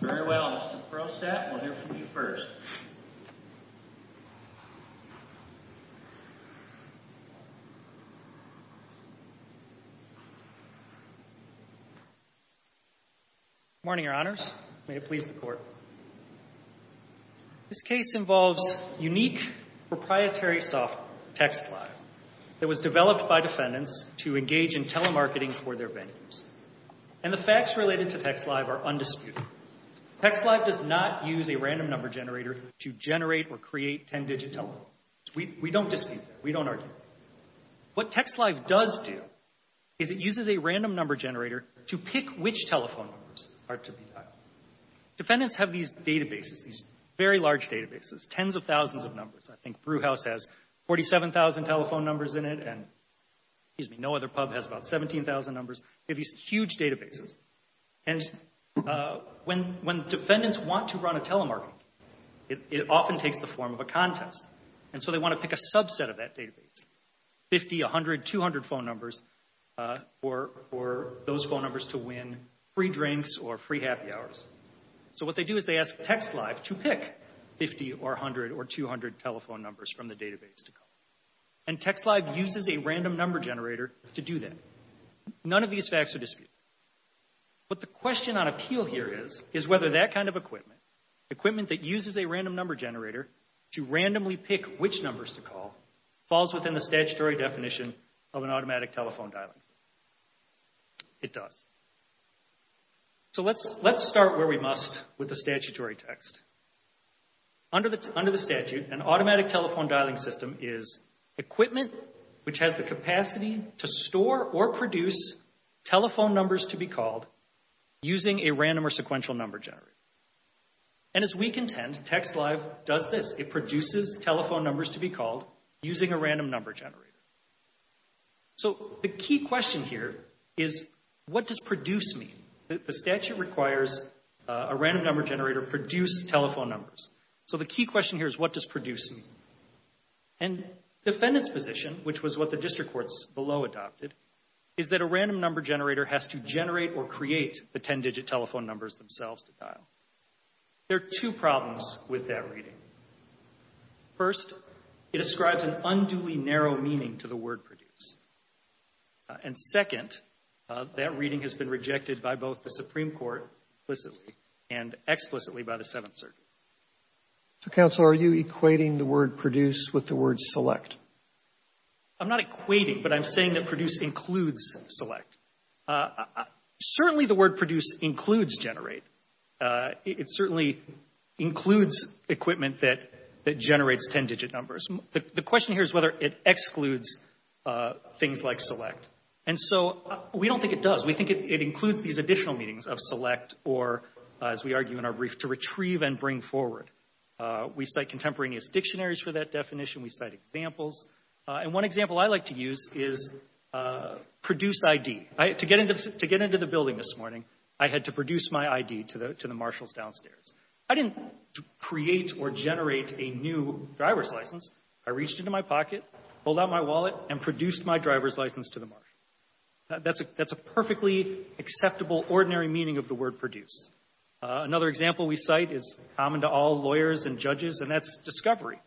Very well, Mr. Perlstadt, we'll hear from you first. Good morning, Your Honors. May it please the Court. This case involves unique proprietary software, TextLive, that was developed by defendants to engage in telemarketing for their vendors. And the facts related to TextLive are undisputed. TextLive does not use a random number generator to generate or create ten-digit telephones. We don't dispute that. We don't argue that. What TextLive does do is it uses a random number generator to pick which telephone numbers are to be dialed. Defendants have these databases, these very large databases, tens of thousands of numbers. I think Brew House has 47,000 telephone numbers in it, and, excuse me, no other pub has about 17,000 numbers. They have these huge databases. And when defendants want to run a telemarketing, it often takes the form of a contest. And so they want to pick a subset of that database, 50, 100, 200 phone numbers, for those phone numbers to win free drinks or free happy hours. So what they do is they ask TextLive to pick 50 or 100 or 200 telephone numbers from the database to call. And TextLive uses a random number generator to do that. None of these facts are disputed. But the question on appeal here is, is whether that kind of equipment, equipment that uses a random number generator to randomly pick which numbers to call, falls within the statutory definition of an automatic telephone dialing system. It does. So let's start where we must with the statutory text. Under the statute, an automatic telephone dialing system is equipment which has the capacity to store or produce telephone numbers to be called using a random or sequential number generator. And as we contend, TextLive does this. It produces telephone numbers to be called using a random number generator. So the key question here is, what does produce mean? The statute requires a random number generator to produce telephone numbers. So the key question here is, what does produce mean? And the defendant's position, which was what the district courts below adopted, is that a random number generator has to generate or create the 10-digit telephone numbers themselves to dial. There are two problems with that reading. First, it ascribes an unduly narrow meaning to the word produce. And second, that reading has been rejected by both the Supreme Court explicitly and explicitly by the Seventh Circuit. So, counsel, are you equating the word produce with the word select? I'm not equating, but I'm saying that produce includes select. Certainly the word produce includes generate. It certainly includes equipment that generates 10-digit numbers. The question here is whether it excludes things like select. And so we don't think it does. We think it includes these additional meanings of select or, as we argue in our brief, to retrieve and bring forward. We cite contemporaneous dictionaries for that definition. We cite examples. And one example I like to use is produce ID. To get into the building this morning, I had to produce my ID to the marshals downstairs. I didn't create or generate a new driver's license. I reached into my pocket, pulled out my wallet, and produced my driver's license to the marsh. That's a perfectly acceptable, ordinary meaning of the word produce. Another example we cite is common to all lawyers and judges, and that's discovery.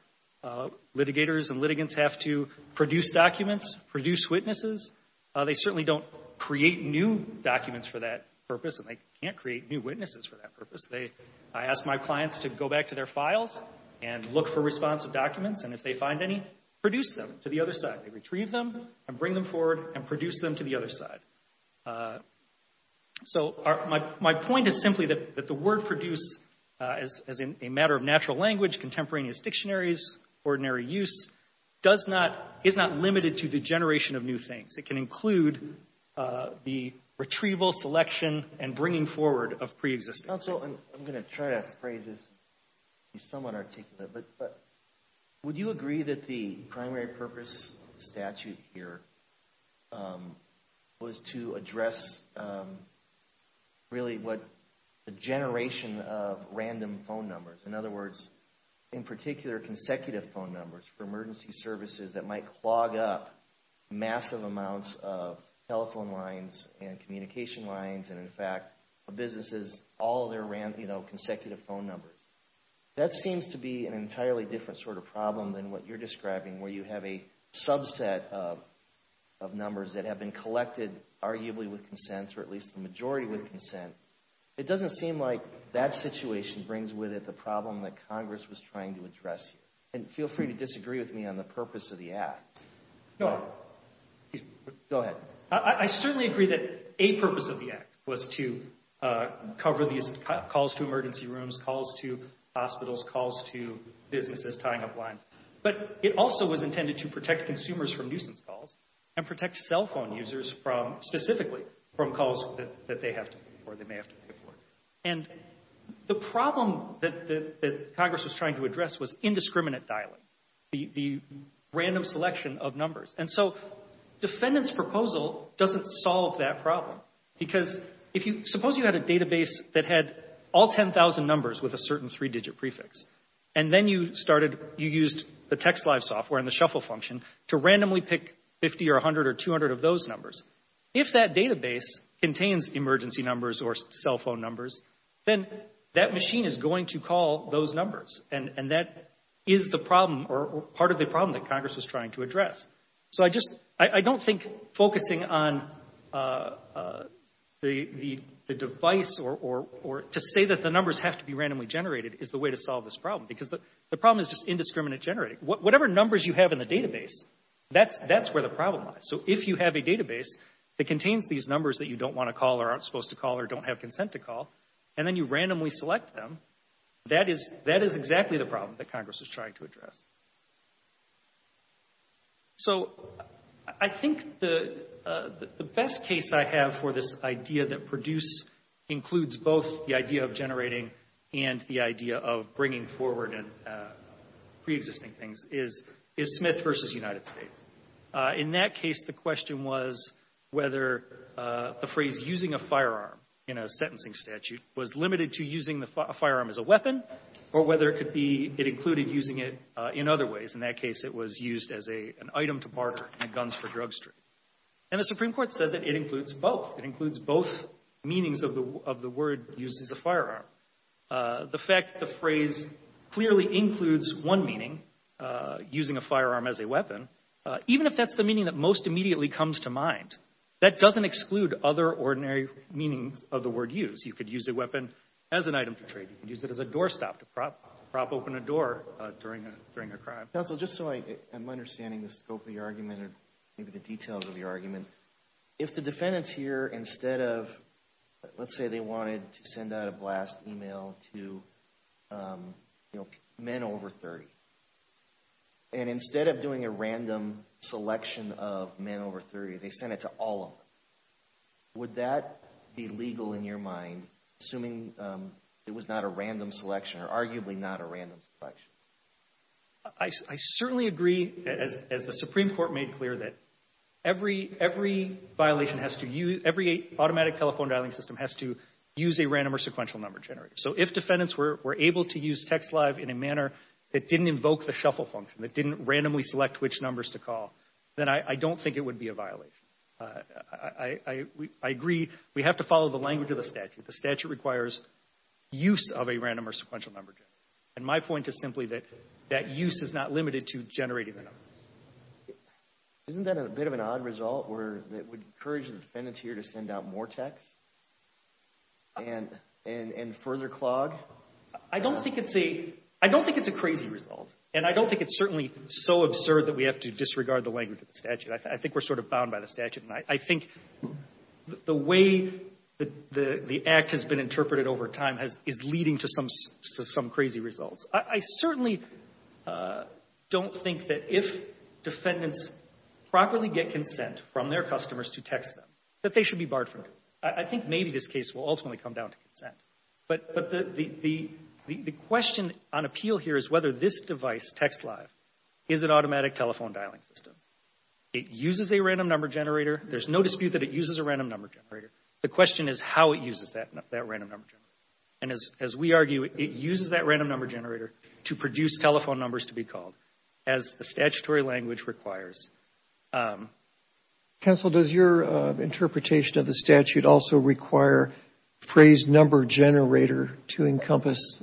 Litigators and litigants have to produce documents, produce witnesses. They certainly don't create new documents for that purpose, and they can't create new witnesses for that purpose. I ask my clients to go back to their files and look for responsive documents, and if they find any, produce them to the other side. They retrieve them and bring them forward and produce them to the other side. So my point is simply that the word produce, as a matter of natural language, contemporaneous dictionaries, ordinary use, is not limited to the generation of new things. It can include the retrieval, selection, and bringing forward of preexisting. Counsel, I'm going to try to phrase this to be somewhat articulate, but would you agree that the primary purpose of the statute here was to address really what the generation of random phone numbers, in other words, in particular, consecutive phone numbers for emergency services that might clog up massive amounts of telephone lines and communication lines and, in fact, businesses, all their consecutive phone numbers? That seems to be an entirely different sort of problem than what you're describing, where you have a subset of numbers that have been collected arguably with consent or at least the majority with consent. It doesn't seem like that situation brings with it the problem that Congress was trying to address here. And feel free to disagree with me on the purpose of the act. Go ahead. I certainly agree that a purpose of the act was to cover these calls to emergency rooms, calls to hospitals, calls to businesses, tying up lines. But it also was intended to protect consumers from nuisance calls and protect cell phone users from, specifically, from calls that they have to pay for or they may have to pay for. And the problem that Congress was trying to address was indiscriminate dialing. The random selection of numbers. And so defendant's proposal doesn't solve that problem. Because if you – suppose you had a database that had all 10,000 numbers with a certain three-digit prefix, and then you started – you used the TextLive software and the shuffle function to randomly pick 50 or 100 or 200 of those numbers. If that database contains emergency numbers or cell phone numbers, then that machine is going to call those numbers. And that is the problem or part of the problem that Congress was trying to address. So I just – I don't think focusing on the device or to say that the numbers have to be randomly generated is the way to solve this problem. Because the problem is just indiscriminate generating. Whatever numbers you have in the database, that's where the problem lies. So if you have a database that contains these numbers that you don't want to call or aren't supposed to call or don't have consent to call, and then you randomly select them, that is exactly the problem that Congress is trying to address. So I think the best case I have for this idea that PRODUCE includes both the idea of generating and the idea of bringing forward preexisting things is Smith v. United States. In that case, the question was whether the phrase using a firearm in a sentencing statute was limited to using the firearm as a weapon or whether it could be – it included using it in other ways. In that case, it was used as an item to barter in a guns-for-drug street. And the Supreme Court said that it includes both. It includes both meanings of the word used as a firearm. The fact the phrase clearly includes one meaning, using a firearm as a weapon, even if that's the meaning that most immediately comes to mind, that doesn't exclude other ordinary meanings of the word used. You could use a weapon as an item for trade. You could use it as a doorstop to prop open a door during a crime. Counsel, just so I'm understanding the scope of your argument or maybe the details of your argument, if the defendants here, instead of – let's say they wanted to send out a blast email to, you know, men over 30. And instead of doing a random selection of men over 30, they sent it to all of them. Would that be legal in your mind, assuming it was not a random selection or arguably not a random selection? I certainly agree, as the Supreme Court made clear, that every violation has to use – every automatic telephone dialing system has to use a random or sequential number generator. So if defendants were able to use TextLive in a manner that didn't invoke the shuffle function, that didn't randomly select which numbers to call, then I don't think it would be a violation. I agree we have to follow the language of the statute. The statute requires use of a random or sequential number generator. And my point is simply that that use is not limited to generating the numbers. Isn't that a bit of an odd result where it would encourage the defendants here to send out more texts and further clog? I don't think it's a – I don't think it's a crazy result. And I don't think it's certainly so absurd that we have to disregard the language of the statute. I think we're sort of bound by the statute. And I think the way the act has been interpreted over time is leading to some crazy results. I certainly don't think that if defendants properly get consent from their customers to text them, that they should be barred from doing it. I think maybe this case will ultimately come down to consent. But the question on appeal here is whether this device, TextLive, is an automatic telephone dialing system. It uses a random number generator. There's no dispute that it uses a random number generator. The question is how it uses that random number generator. And as we argue, it uses that random number generator to produce telephone numbers to be called, as the statutory language requires. Roberts. Counsel, does your interpretation of the statute also require phrase number generator to encompass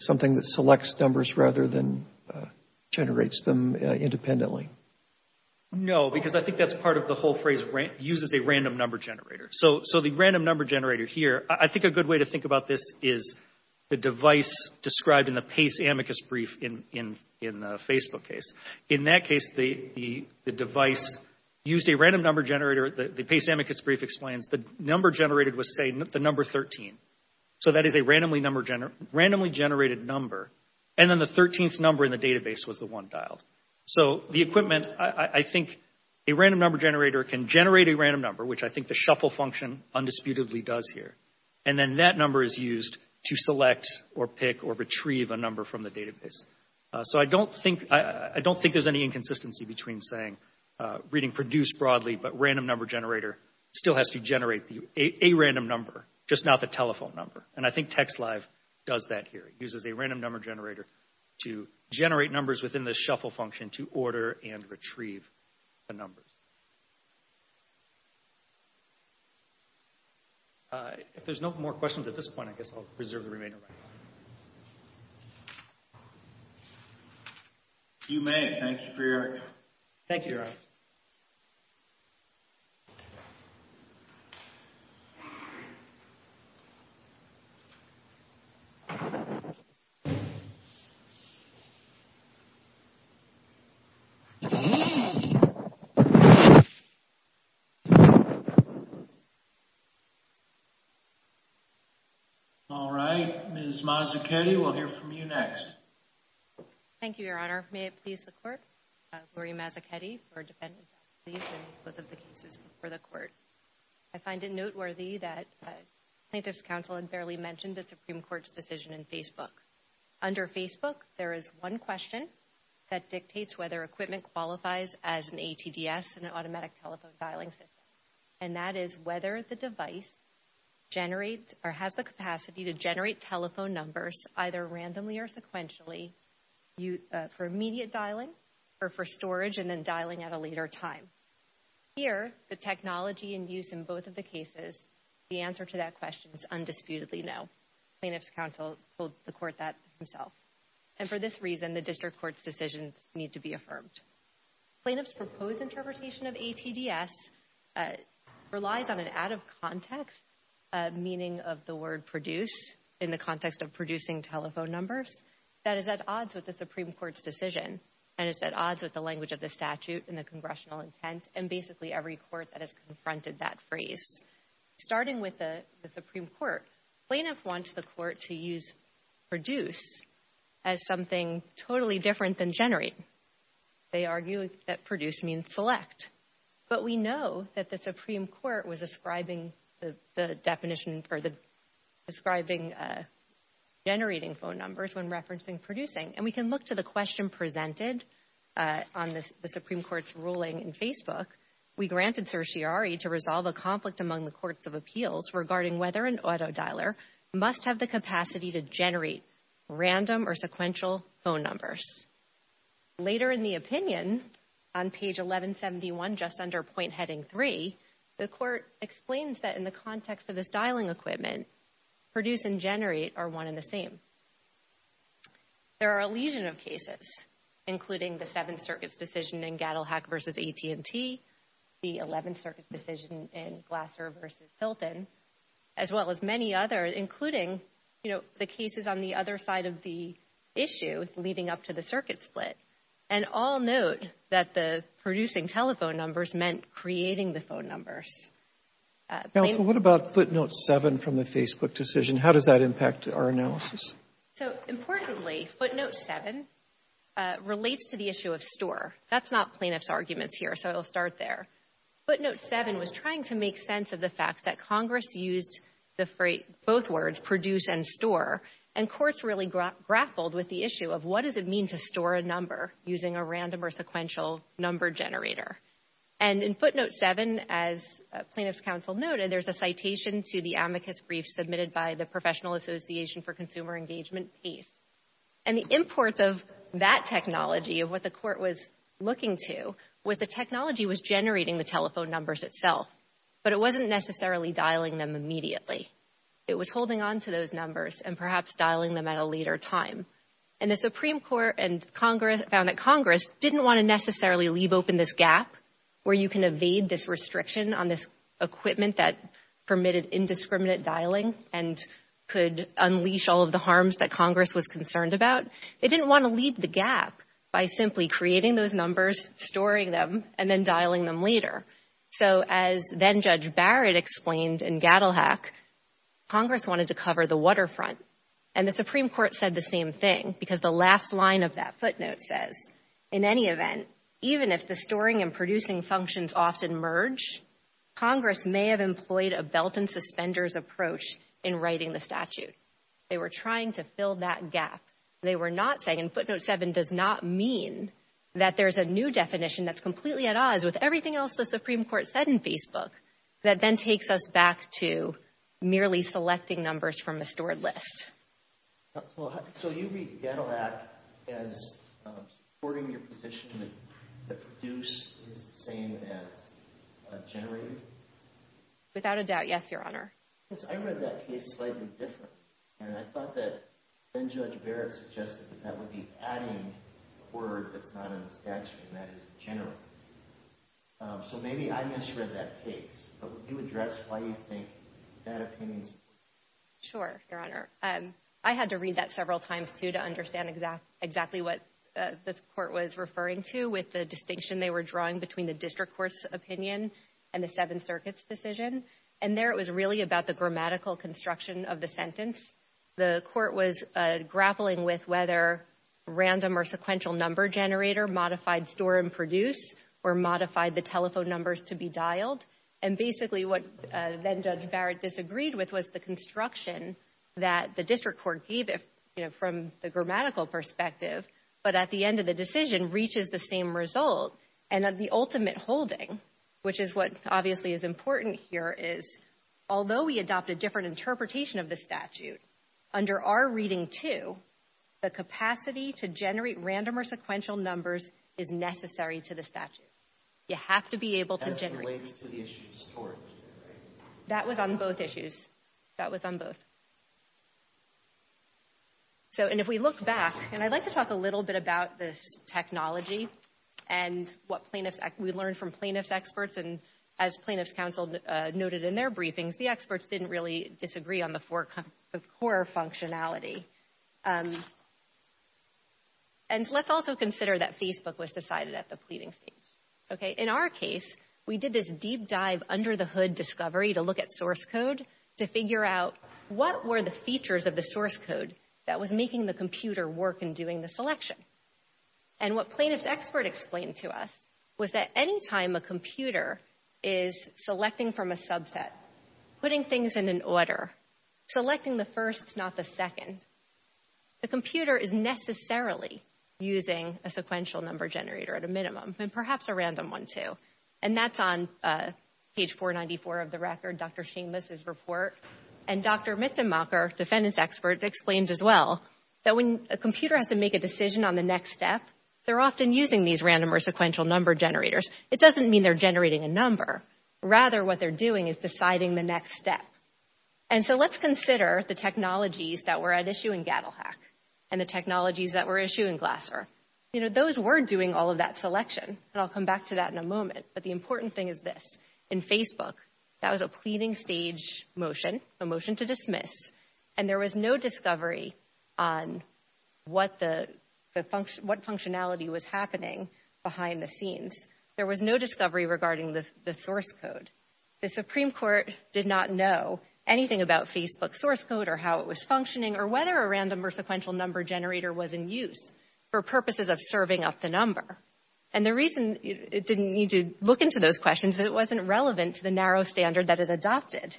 something that selects numbers rather than generates them independently? No, because I think that's part of the whole phrase, uses a random number generator. So the random number generator here, I think a good way to think about this is the device described in the Pace amicus brief in the Facebook case. In that case, the device used a random number generator. The Pace amicus brief explains the number generated was, say, the number 13. So that is a randomly generated number. And then the 13th number in the database was the one dialed. So the equipment, I think a random number generator can generate a random number, which I think the shuffle function undisputedly does here. And then that number is used to select or pick or retrieve a number from the database. So I don't think there's any inconsistency between saying, reading produced broadly, but random number generator still has to generate a random number, just not the telephone number. And I think TextLive does that here. It uses a random number generator to generate numbers within the shuffle function to order and retrieve the numbers. If there's no more questions at this point, I guess I'll reserve the remainder of my time. If you may, thank you for your time. Thank you, Eric. Thank you. All right, Ms. Mazzuchetti, we'll hear from you next. Thank you, Your Honor. May it please the court, Gloria Mazzuchetti, for defending both of the cases before the court. I find it noteworthy that plaintiff's counsel had barely mentioned the Supreme Court's decision in Facebook. Under Facebook, there is one question that dictates whether equipment qualifies as an ATDS, an automatic telephone dialing system, and that is whether the device generates or has the capacity to generate telephone numbers either randomly or sequentially for immediate dialing or for storage and then dialing at a later time. Here, the technology in use in both of the cases, the answer to that question is undisputedly no. Plaintiff's counsel told the court that himself. And for this reason, the district court's decisions need to be affirmed. Plaintiff's proposed interpretation of ATDS relies on an out-of-context meaning of the word produce in the context of producing telephone numbers that is at odds with the Supreme Court's decision and is at odds with the language of the statute and the congressional intent and basically every court that has confronted that phrase. Starting with the Supreme Court, plaintiff wants the court to use produce as something totally different than generate. They argue that produce means select. But we know that the Supreme Court was ascribing the definition for the describing generating phone numbers when referencing producing. And we can look to the question presented on the Supreme Court's ruling in Facebook. We granted certiorari to resolve a conflict among the courts of appeals regarding whether an auto dialer must have the capacity to generate random or sequential phone numbers. Later in the opinion, on page 1171, just under point heading 3, the court explains that in the context of this dialing equipment, produce and generate are one and the same. There are a legion of cases, including the Seventh Circuit's decision in Gaddell-Hack v. AT&T, the Eleventh Circuit's decision in Glasser v. Hilton, as well as many others, including, you know, the cases on the other side of the issue leading up to the circuit split. And all note that the producing telephone numbers meant creating the phone numbers. Counsel, what about footnote 7 from the Facebook decision? How does that impact our analysis? So, importantly, footnote 7 relates to the issue of store. That's not plaintiff's arguments here, so I'll start there. Footnote 7 was trying to make sense of the fact that Congress used both words, produce and store, and courts really grappled with the issue of what does it mean to store a number using a random or sequential number generator. And in footnote 7, as plaintiff's counsel noted, there's a citation to the amicus brief submitted by the Professional Association for Consumer Engagement, PACE. And the import of that technology, of what the court was looking to, was the technology was generating the telephone numbers itself, but it wasn't necessarily dialing them immediately. It was holding on to those numbers and perhaps dialing them at a later time. And the Supreme Court and Congress found that Congress didn't want to necessarily leave open this gap where you can evade this restriction on this equipment that permitted indiscriminate dialing and could unleash all of the harms that Congress was concerned about. They didn't want to leave the gap by simply creating those numbers, storing them, and then dialing them later. So, as then-Judge Barrett explained in Gadelhack, Congress wanted to cover the waterfront. And the Supreme Court said the same thing because the last line of that footnote says, in any event, even if the storing and producing functions often merge, Congress may have employed a belt-and-suspenders approach in writing the statute. They were trying to fill that gap. They were not saying, and footnote 7 does not mean that there's a new definition that's completely at odds with everything else the Supreme Court said in Facebook, that then takes us back to merely selecting numbers from a stored list. So you read Gadelhack as supporting your position that produce is the same as generating? Without a doubt, yes, Your Honor. Yes, I read that case slightly different, and I thought that then-Judge Barrett suggested that that would be adding a word that's not in the statute, and that is general. So maybe I misread that case, but would you address why you think that opinion is important? Sure, Your Honor. I had to read that several times, too, to understand exactly what this Court was referring to with the distinction they were drawing between the district court's opinion and the Seventh Circuit's decision. And there it was really about the grammatical construction of the sentence. The Court was grappling with whether random or sequential number generator modified store and produce or modified the telephone numbers to be dialed. And basically what then-Judge Barrett disagreed with was the construction that the district court gave it, you know, from the grammatical perspective, but at the end of the decision reaches the same result. And of the ultimate holding, which is what obviously is important here, is although we adopt a different interpretation of the statute, under our reading, too, the capacity to generate random or sequential numbers is necessary to the statute. You have to be able to generate. That was on both issues. That was on both. And if we look back, and I'd like to talk a little bit about this technology and what we learned from plaintiff's experts, and as plaintiff's counsel noted in their briefings, the experts didn't really disagree on the core functionality. And let's also consider that Facebook was decided at the pleading stage. In our case, we did this deep dive under the hood discovery to look at source code to figure out what were the features of the source code that was making the computer work in doing the selection. And what plaintiff's expert explained to us was that any time a computer is selecting from a subset, putting things in an order, selecting the first, not the second, the computer is necessarily using a sequential number generator at a minimum, and perhaps a random one, too. And that's on page 494 of the record, Dr. Seamless's report. And Dr. Mitzenmacher, defendant's expert, explained as well that when a computer has to make a decision on the next step, they're often using these random or sequential number generators. It doesn't mean they're generating a number. Rather, what they're doing is deciding the next step. And so let's consider the technologies that were at issue in GattleHack and the technologies that were at issue in Glasser. You know, those were doing all of that selection, and I'll come back to that in a moment. But the important thing is this. In Facebook, that was a pleading stage motion, a motion to dismiss, and there was no discovery on what functionality was happening behind the scenes. There was no discovery regarding the source code. The Supreme Court did not know anything about Facebook's source code or how it was functioning or whether a random or sequential number generator was in use for purposes of serving up the number. And the reason it didn't need to look into those questions is it wasn't relevant to the narrow standard that it adopted.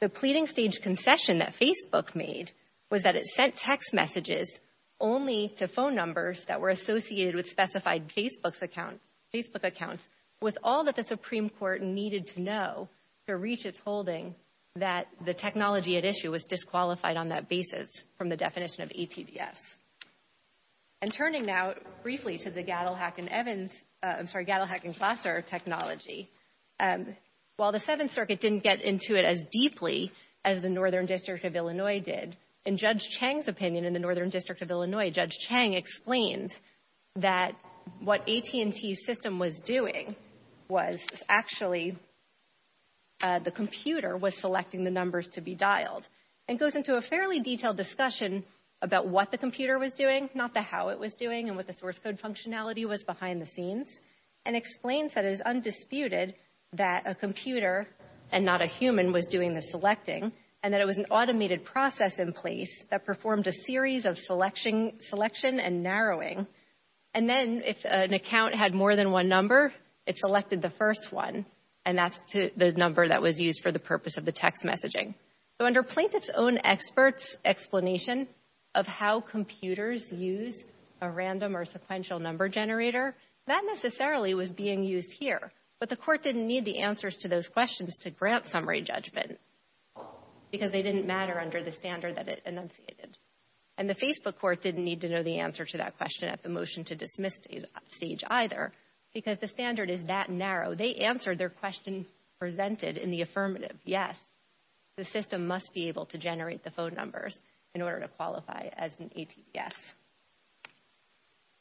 The pleading stage concession that Facebook made was that it sent text messages only to phone numbers that were associated with specified Facebook accounts with all that the Supreme Court needed to know to reach its holding that the technology at issue was disqualified on that basis from the definition of ATDS. And turning now briefly to the GattleHack and Glasser technology, while the Seventh Circuit didn't get into it as deeply as the Northern District of Illinois did, in Judge Chang's opinion in the Northern District of Illinois, Judge Chang explained that what AT&T's system was doing was actually the computer was selecting the numbers to be dialed. And it goes into a fairly detailed discussion about what the computer was doing, not the how it was doing and what the source code functionality was behind the scenes, and explains that it is undisputed that a computer and not a human was doing the selecting and that it was an automated process in place that performed a series of selection and narrowing. And then if an account had more than one number, it selected the first one, and that's the number that was used for the purpose of the text messaging. So under plaintiff's own explanation of how computers use a random or sequential number generator, that necessarily was being used here. But the Court didn't need the answers to those questions to grant summary judgment. Because they didn't matter under the standard that it enunciated. And the Facebook Court didn't need to know the answer to that question at the motion to dismiss stage either, because the standard is that narrow. They answered their question presented in the affirmative. Yes, the system must be able to generate the phone numbers in order to qualify as an ATDS.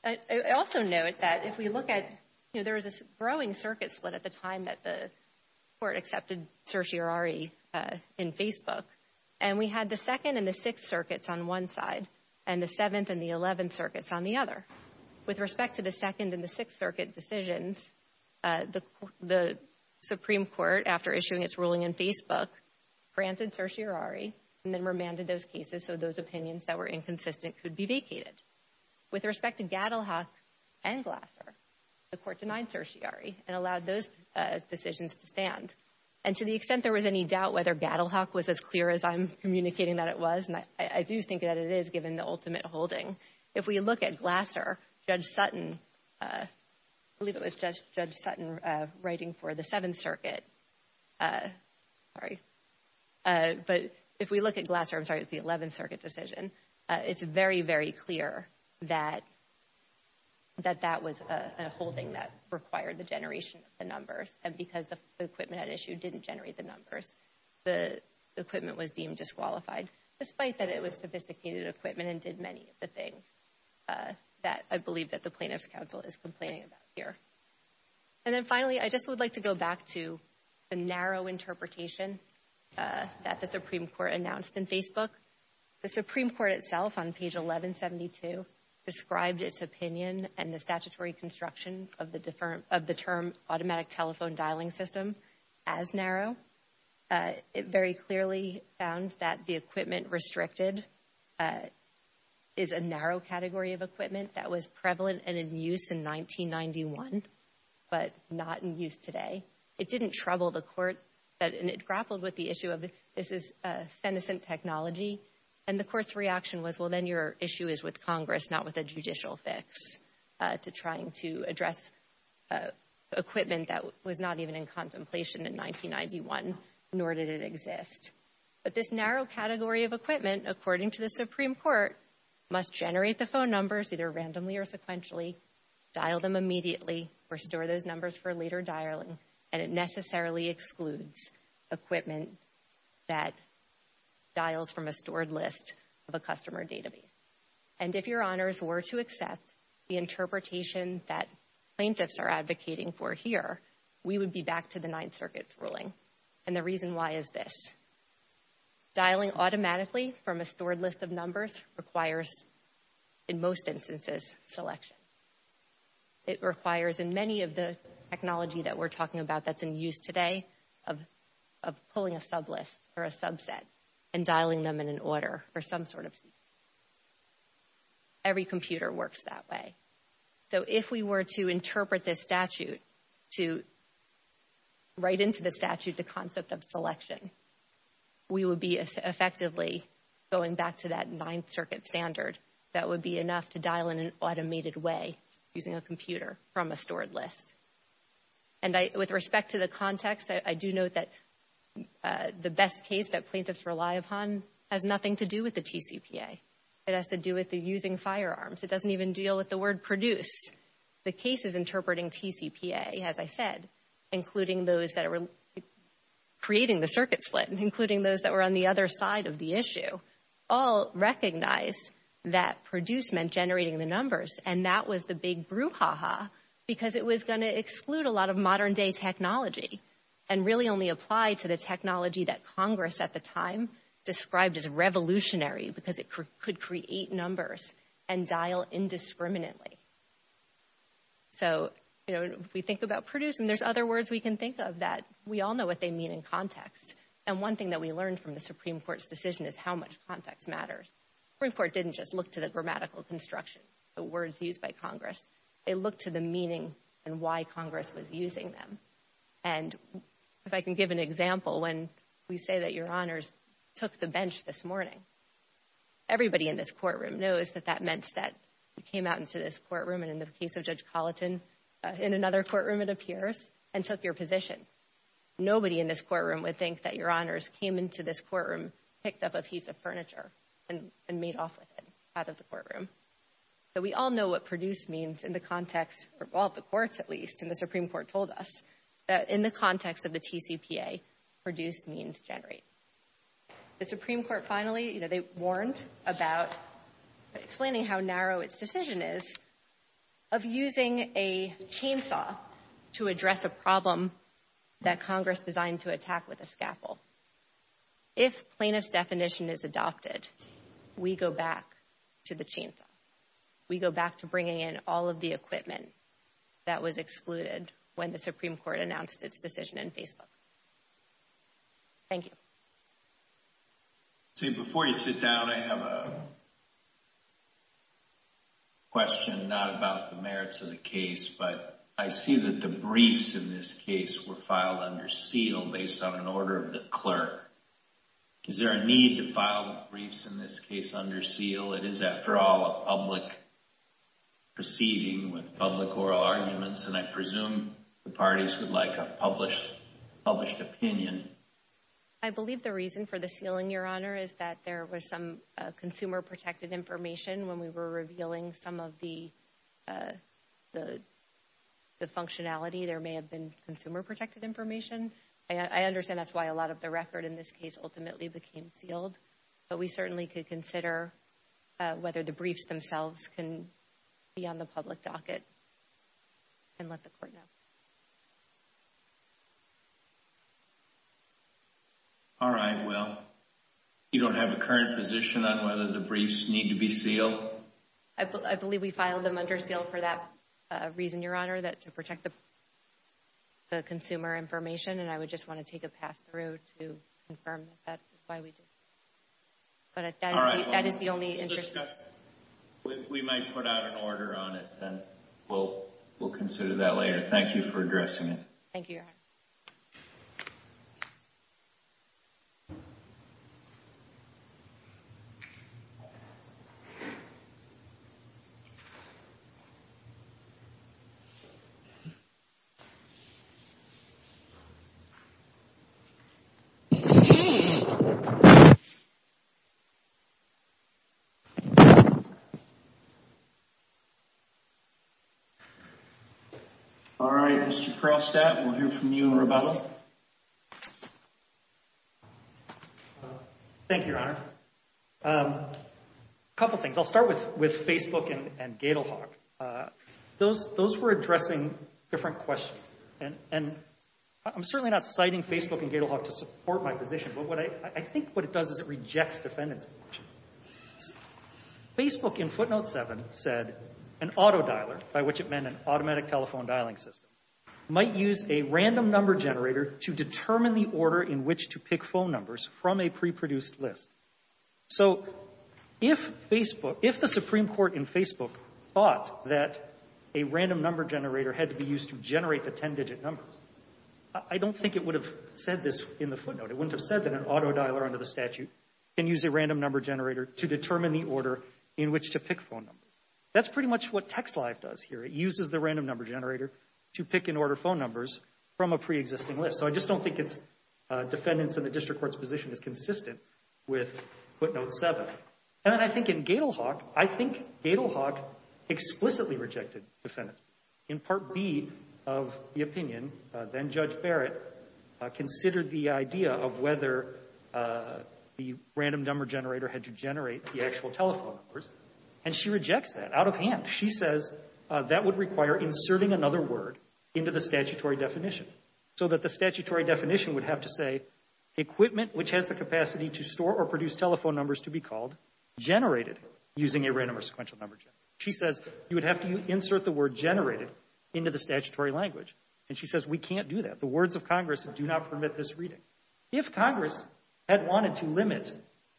I also note that if we look at, you know, there was a growing circuit split at the time that the Court accepted certiorari in Facebook. And we had the 2nd and the 6th circuits on one side, and the 7th and the 11th circuits on the other. With respect to the 2nd and the 6th circuit decisions, the Supreme Court, after issuing its ruling in Facebook, granted certiorari, and then remanded those cases so those opinions that were inconsistent could be vacated. With respect to Gaddelhock and Glasser, the Court denied certiorari and allowed those decisions to stand. And to the extent there was any doubt whether Gaddelhock was as clear as I'm communicating that it was, and I do think that it is, given the ultimate holding. If we look at Glasser, Judge Sutton, I believe it was Judge Sutton writing for the 7th circuit, sorry, but if we look at Glasser, I'm sorry, it was the 11th circuit decision, it's very, very clear that that was a holding that required the generation of the numbers. And because the equipment at issue didn't generate the numbers, the equipment was deemed disqualified, despite that it was sophisticated equipment and did many of the things that I believe that the Plaintiff's Counsel is complaining about here. And then finally, I just would like to go back to the narrow interpretation that the Supreme Court announced in Facebook. The Supreme Court itself on page 1172 described its opinion and the statutory construction of the term automatic telephone dialing system as narrow. It very clearly found that the equipment restricted is a narrow category of equipment that was prevalent and in use in 1991, but not in use today. It didn't trouble the court, and it grappled with the issue of this is senescent technology, and the court's reaction was, well, then your issue is with Congress, not with a judicial fix, to trying to address equipment that was not even in contemplation in 1991, nor did it exist. But this narrow category of equipment, according to the Supreme Court, must generate the phone numbers either randomly or sequentially, dial them immediately, restore those numbers for later dialing, and it necessarily excludes equipment that dials from a stored list of a customer database. And if Your Honors were to accept the interpretation that plaintiffs are advocating for here, we would be back to the Ninth Circuit's ruling, and the reason why is this. Dialing automatically from a stored list of numbers requires, in most instances, selection. It requires, in many of the technology that we're talking about that's in use today, of pulling a sublist or a subset and dialing them in an order or some sort of sequence. Every computer works that way. So if we were to interpret this statute, to write into the statute the concept of selection, we would be effectively going back to that Ninth Circuit standard that would be enough to dial in an automated way using a computer from a stored list. And with respect to the context, I do note that the best case that plaintiffs rely upon has nothing to do with the TCPA. It has to do with the using firearms. It doesn't even deal with the word produced. The cases interpreting TCPA, as I said, including those that are creating the circuit split, including those that were on the other side of the issue, all recognize that produced meant generating the numbers, and that was the big brouhaha because it was going to exclude a lot of modern-day technology and really only apply to the technology that Congress at the time described as revolutionary because it could create numbers and dial indiscriminately. So, you know, if we think about produced, and there's other words we can think of, that we all know what they mean in context. And one thing that we learned from the Supreme Court's decision is how much context matters. The Supreme Court didn't just look to the grammatical construction, the words used by Congress. They looked to the meaning and why Congress was using them. And if I can give an example, when we say that Your Honors took the bench this morning, everybody in this courtroom knows that that meant that you came out into this courtroom, and in the case of Judge Colleton, in another courtroom it appears, and took your position. Nobody in this courtroom would think that Your Honors came into this courtroom, picked up a piece of furniture, and made off with it out of the courtroom. But we all know what produced means in the context of all the courts, at least, and the Supreme Court told us that in the context of the TCPA, produced means generate. The Supreme Court finally, you know, they warned about explaining how narrow its decision is of using a chainsaw to address a problem that Congress designed to attack with a scaffold. If plaintiff's definition is adopted, we go back to the chainsaw. We go back to bringing in all of the equipment that was excluded when the Supreme Court announced its decision in Facebook. Thank you. See, before you sit down, I have a question, not about the merits of the case, but I see that the briefs in this case were filed under seal based on an order of the clerk. Is there a need to file briefs in this case under seal? It is, after all, a public proceeding with public oral arguments, and I presume the parties would like a published opinion. I believe the reason for the sealing, Your Honor, is that there was some consumer-protected information when we were revealing some of the functionality. There may have been consumer-protected information. I understand that's why a lot of the record in this case ultimately became sealed, but we certainly could consider whether the briefs themselves can be on the public docket and let the court know. All right. Well, you don't have a current position on whether the briefs need to be sealed? I believe we filed them under seal for that reason, Your Honor, to protect the consumer information, and I would just want to take a pass through to confirm that that is why we did that. But that is the only interest. We might put out an order on it, and we'll consider that later. Thank you for addressing it. Thank you, Your Honor. All right. Mr. Krostat, we'll hear from you and Roberto. Thank you, Your Honor. A couple things. I'll start with Facebook and Gatorhawk. Those were addressing different questions, and I'm certainly not citing Facebook and Gatorhawk to support my position, but I think what it does is it rejects defendant's position. Facebook in footnote 7 said an autodialer, by which it meant an automatic telephone dialing system, might use a random number generator to determine the order in which to pick phone numbers from a pre-produced list. So if the Supreme Court in Facebook thought that a random number generator had to be used to generate the ten-digit numbers, I don't think it would have said this in the footnote. It wouldn't have said that an autodialer under the statute can use a random number generator to determine the order in which to pick phone numbers. That's pretty much what TextLive does here. It uses the random number generator to pick and order phone numbers from a pre-existing list. So I just don't think defendants in the district court's position is consistent with footnote 7. And then I think in Gatorhawk, I think Gatorhawk explicitly rejected defendants. In Part B of the opinion, then-Judge Barrett considered the idea of whether the random number generator had to generate the actual telephone numbers, and she rejects that out of hand. She says that would require inserting another word into the statutory definition, so that the statutory definition would have to say equipment which has the capacity to store or produce telephone numbers to be called generated using a random or sequential number generator. She says you would have to insert the word generated into the statutory language. And she says we can't do that. The words of Congress do not permit this reading. If Congress had wanted to limit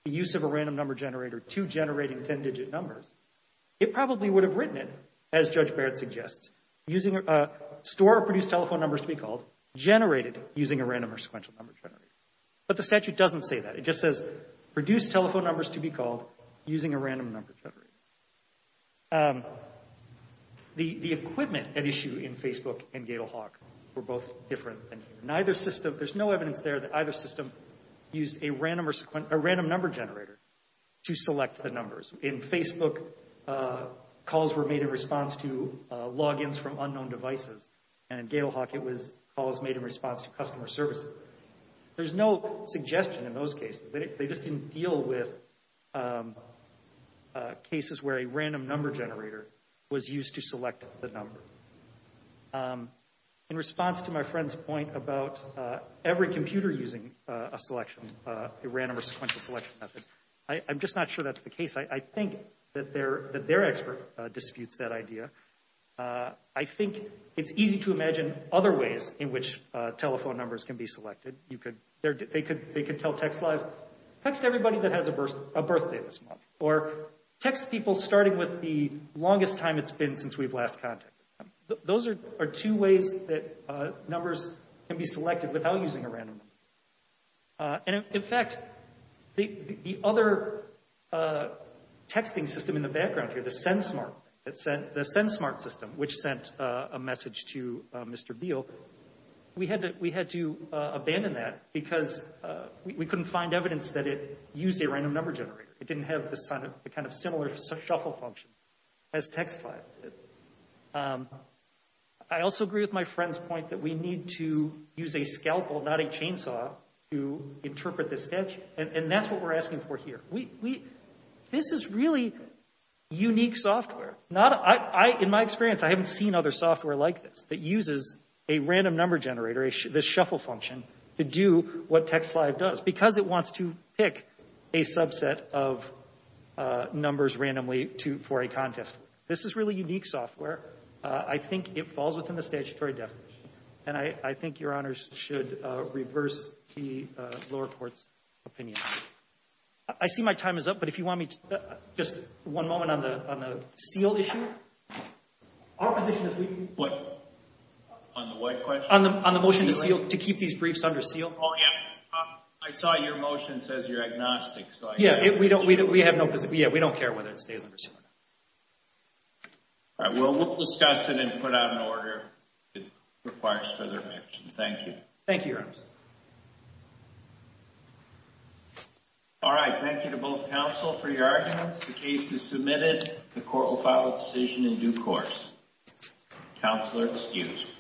the use of a random number generator to generating ten-digit numbers, it probably would have written it, as Judge Barrett suggests, using a store or produce telephone numbers to be called generated using a random or sequential number generator. But the statute doesn't say that. It just says produce telephone numbers to be called using a random number generator. The equipment at issue in Facebook and Gatorhawk were both different. There's no evidence there that either system used a random number generator to select the numbers. In Facebook, calls were made in response to logins from unknown devices, and in Gatorhawk, it was calls made in response to customer services. There's no suggestion in those cases. They just didn't deal with cases where a random number generator was used to select the numbers. In response to my friend's point about every computer using a selection, a random or sequential selection method, I'm just not sure that's the case. I think that their expert disputes that idea. I think it's easy to imagine other ways in which telephone numbers can be selected. They could tell TextLive, text everybody that has a birthday this month, or text people starting with the longest time it's been since we've last contacted them. Those are two ways that numbers can be selected without using a random number. In fact, the other texting system in the background here, the SendSmart, the SendSmart system which sent a message to Mr. Beal, we had to abandon that because we couldn't find evidence that it used a random number generator. It didn't have the kind of similar shuffle function as TextLive did. I also agree with my friend's point that we need to use a scalpel, not a chainsaw, to interpret this text, and that's what we're asking for here. This is really unique software. In my experience, I haven't seen other software like this that uses a random number generator, this shuffle function, to do what TextLive does because it wants to pick a subset of numbers randomly for a contest. This is really unique software. I think it falls within the statutory definition, and I think Your Honors should reverse the lower court's opinion. I see my time is up, but if you want me to, just one moment on the seal issue. Our position is we... What? On the what question? On the motion to seal, to keep these briefs under seal. Oh, yeah. I saw your motion says you're agnostic. Yeah, we don't care whether it stays under seal or not. All right, we'll discuss it and put out an order if it requires further mention. Thank you. Thank you, Your Honors. All right, thank you to both counsel for your arguments. The case is submitted. The court will follow decision in due course. Counselor excused.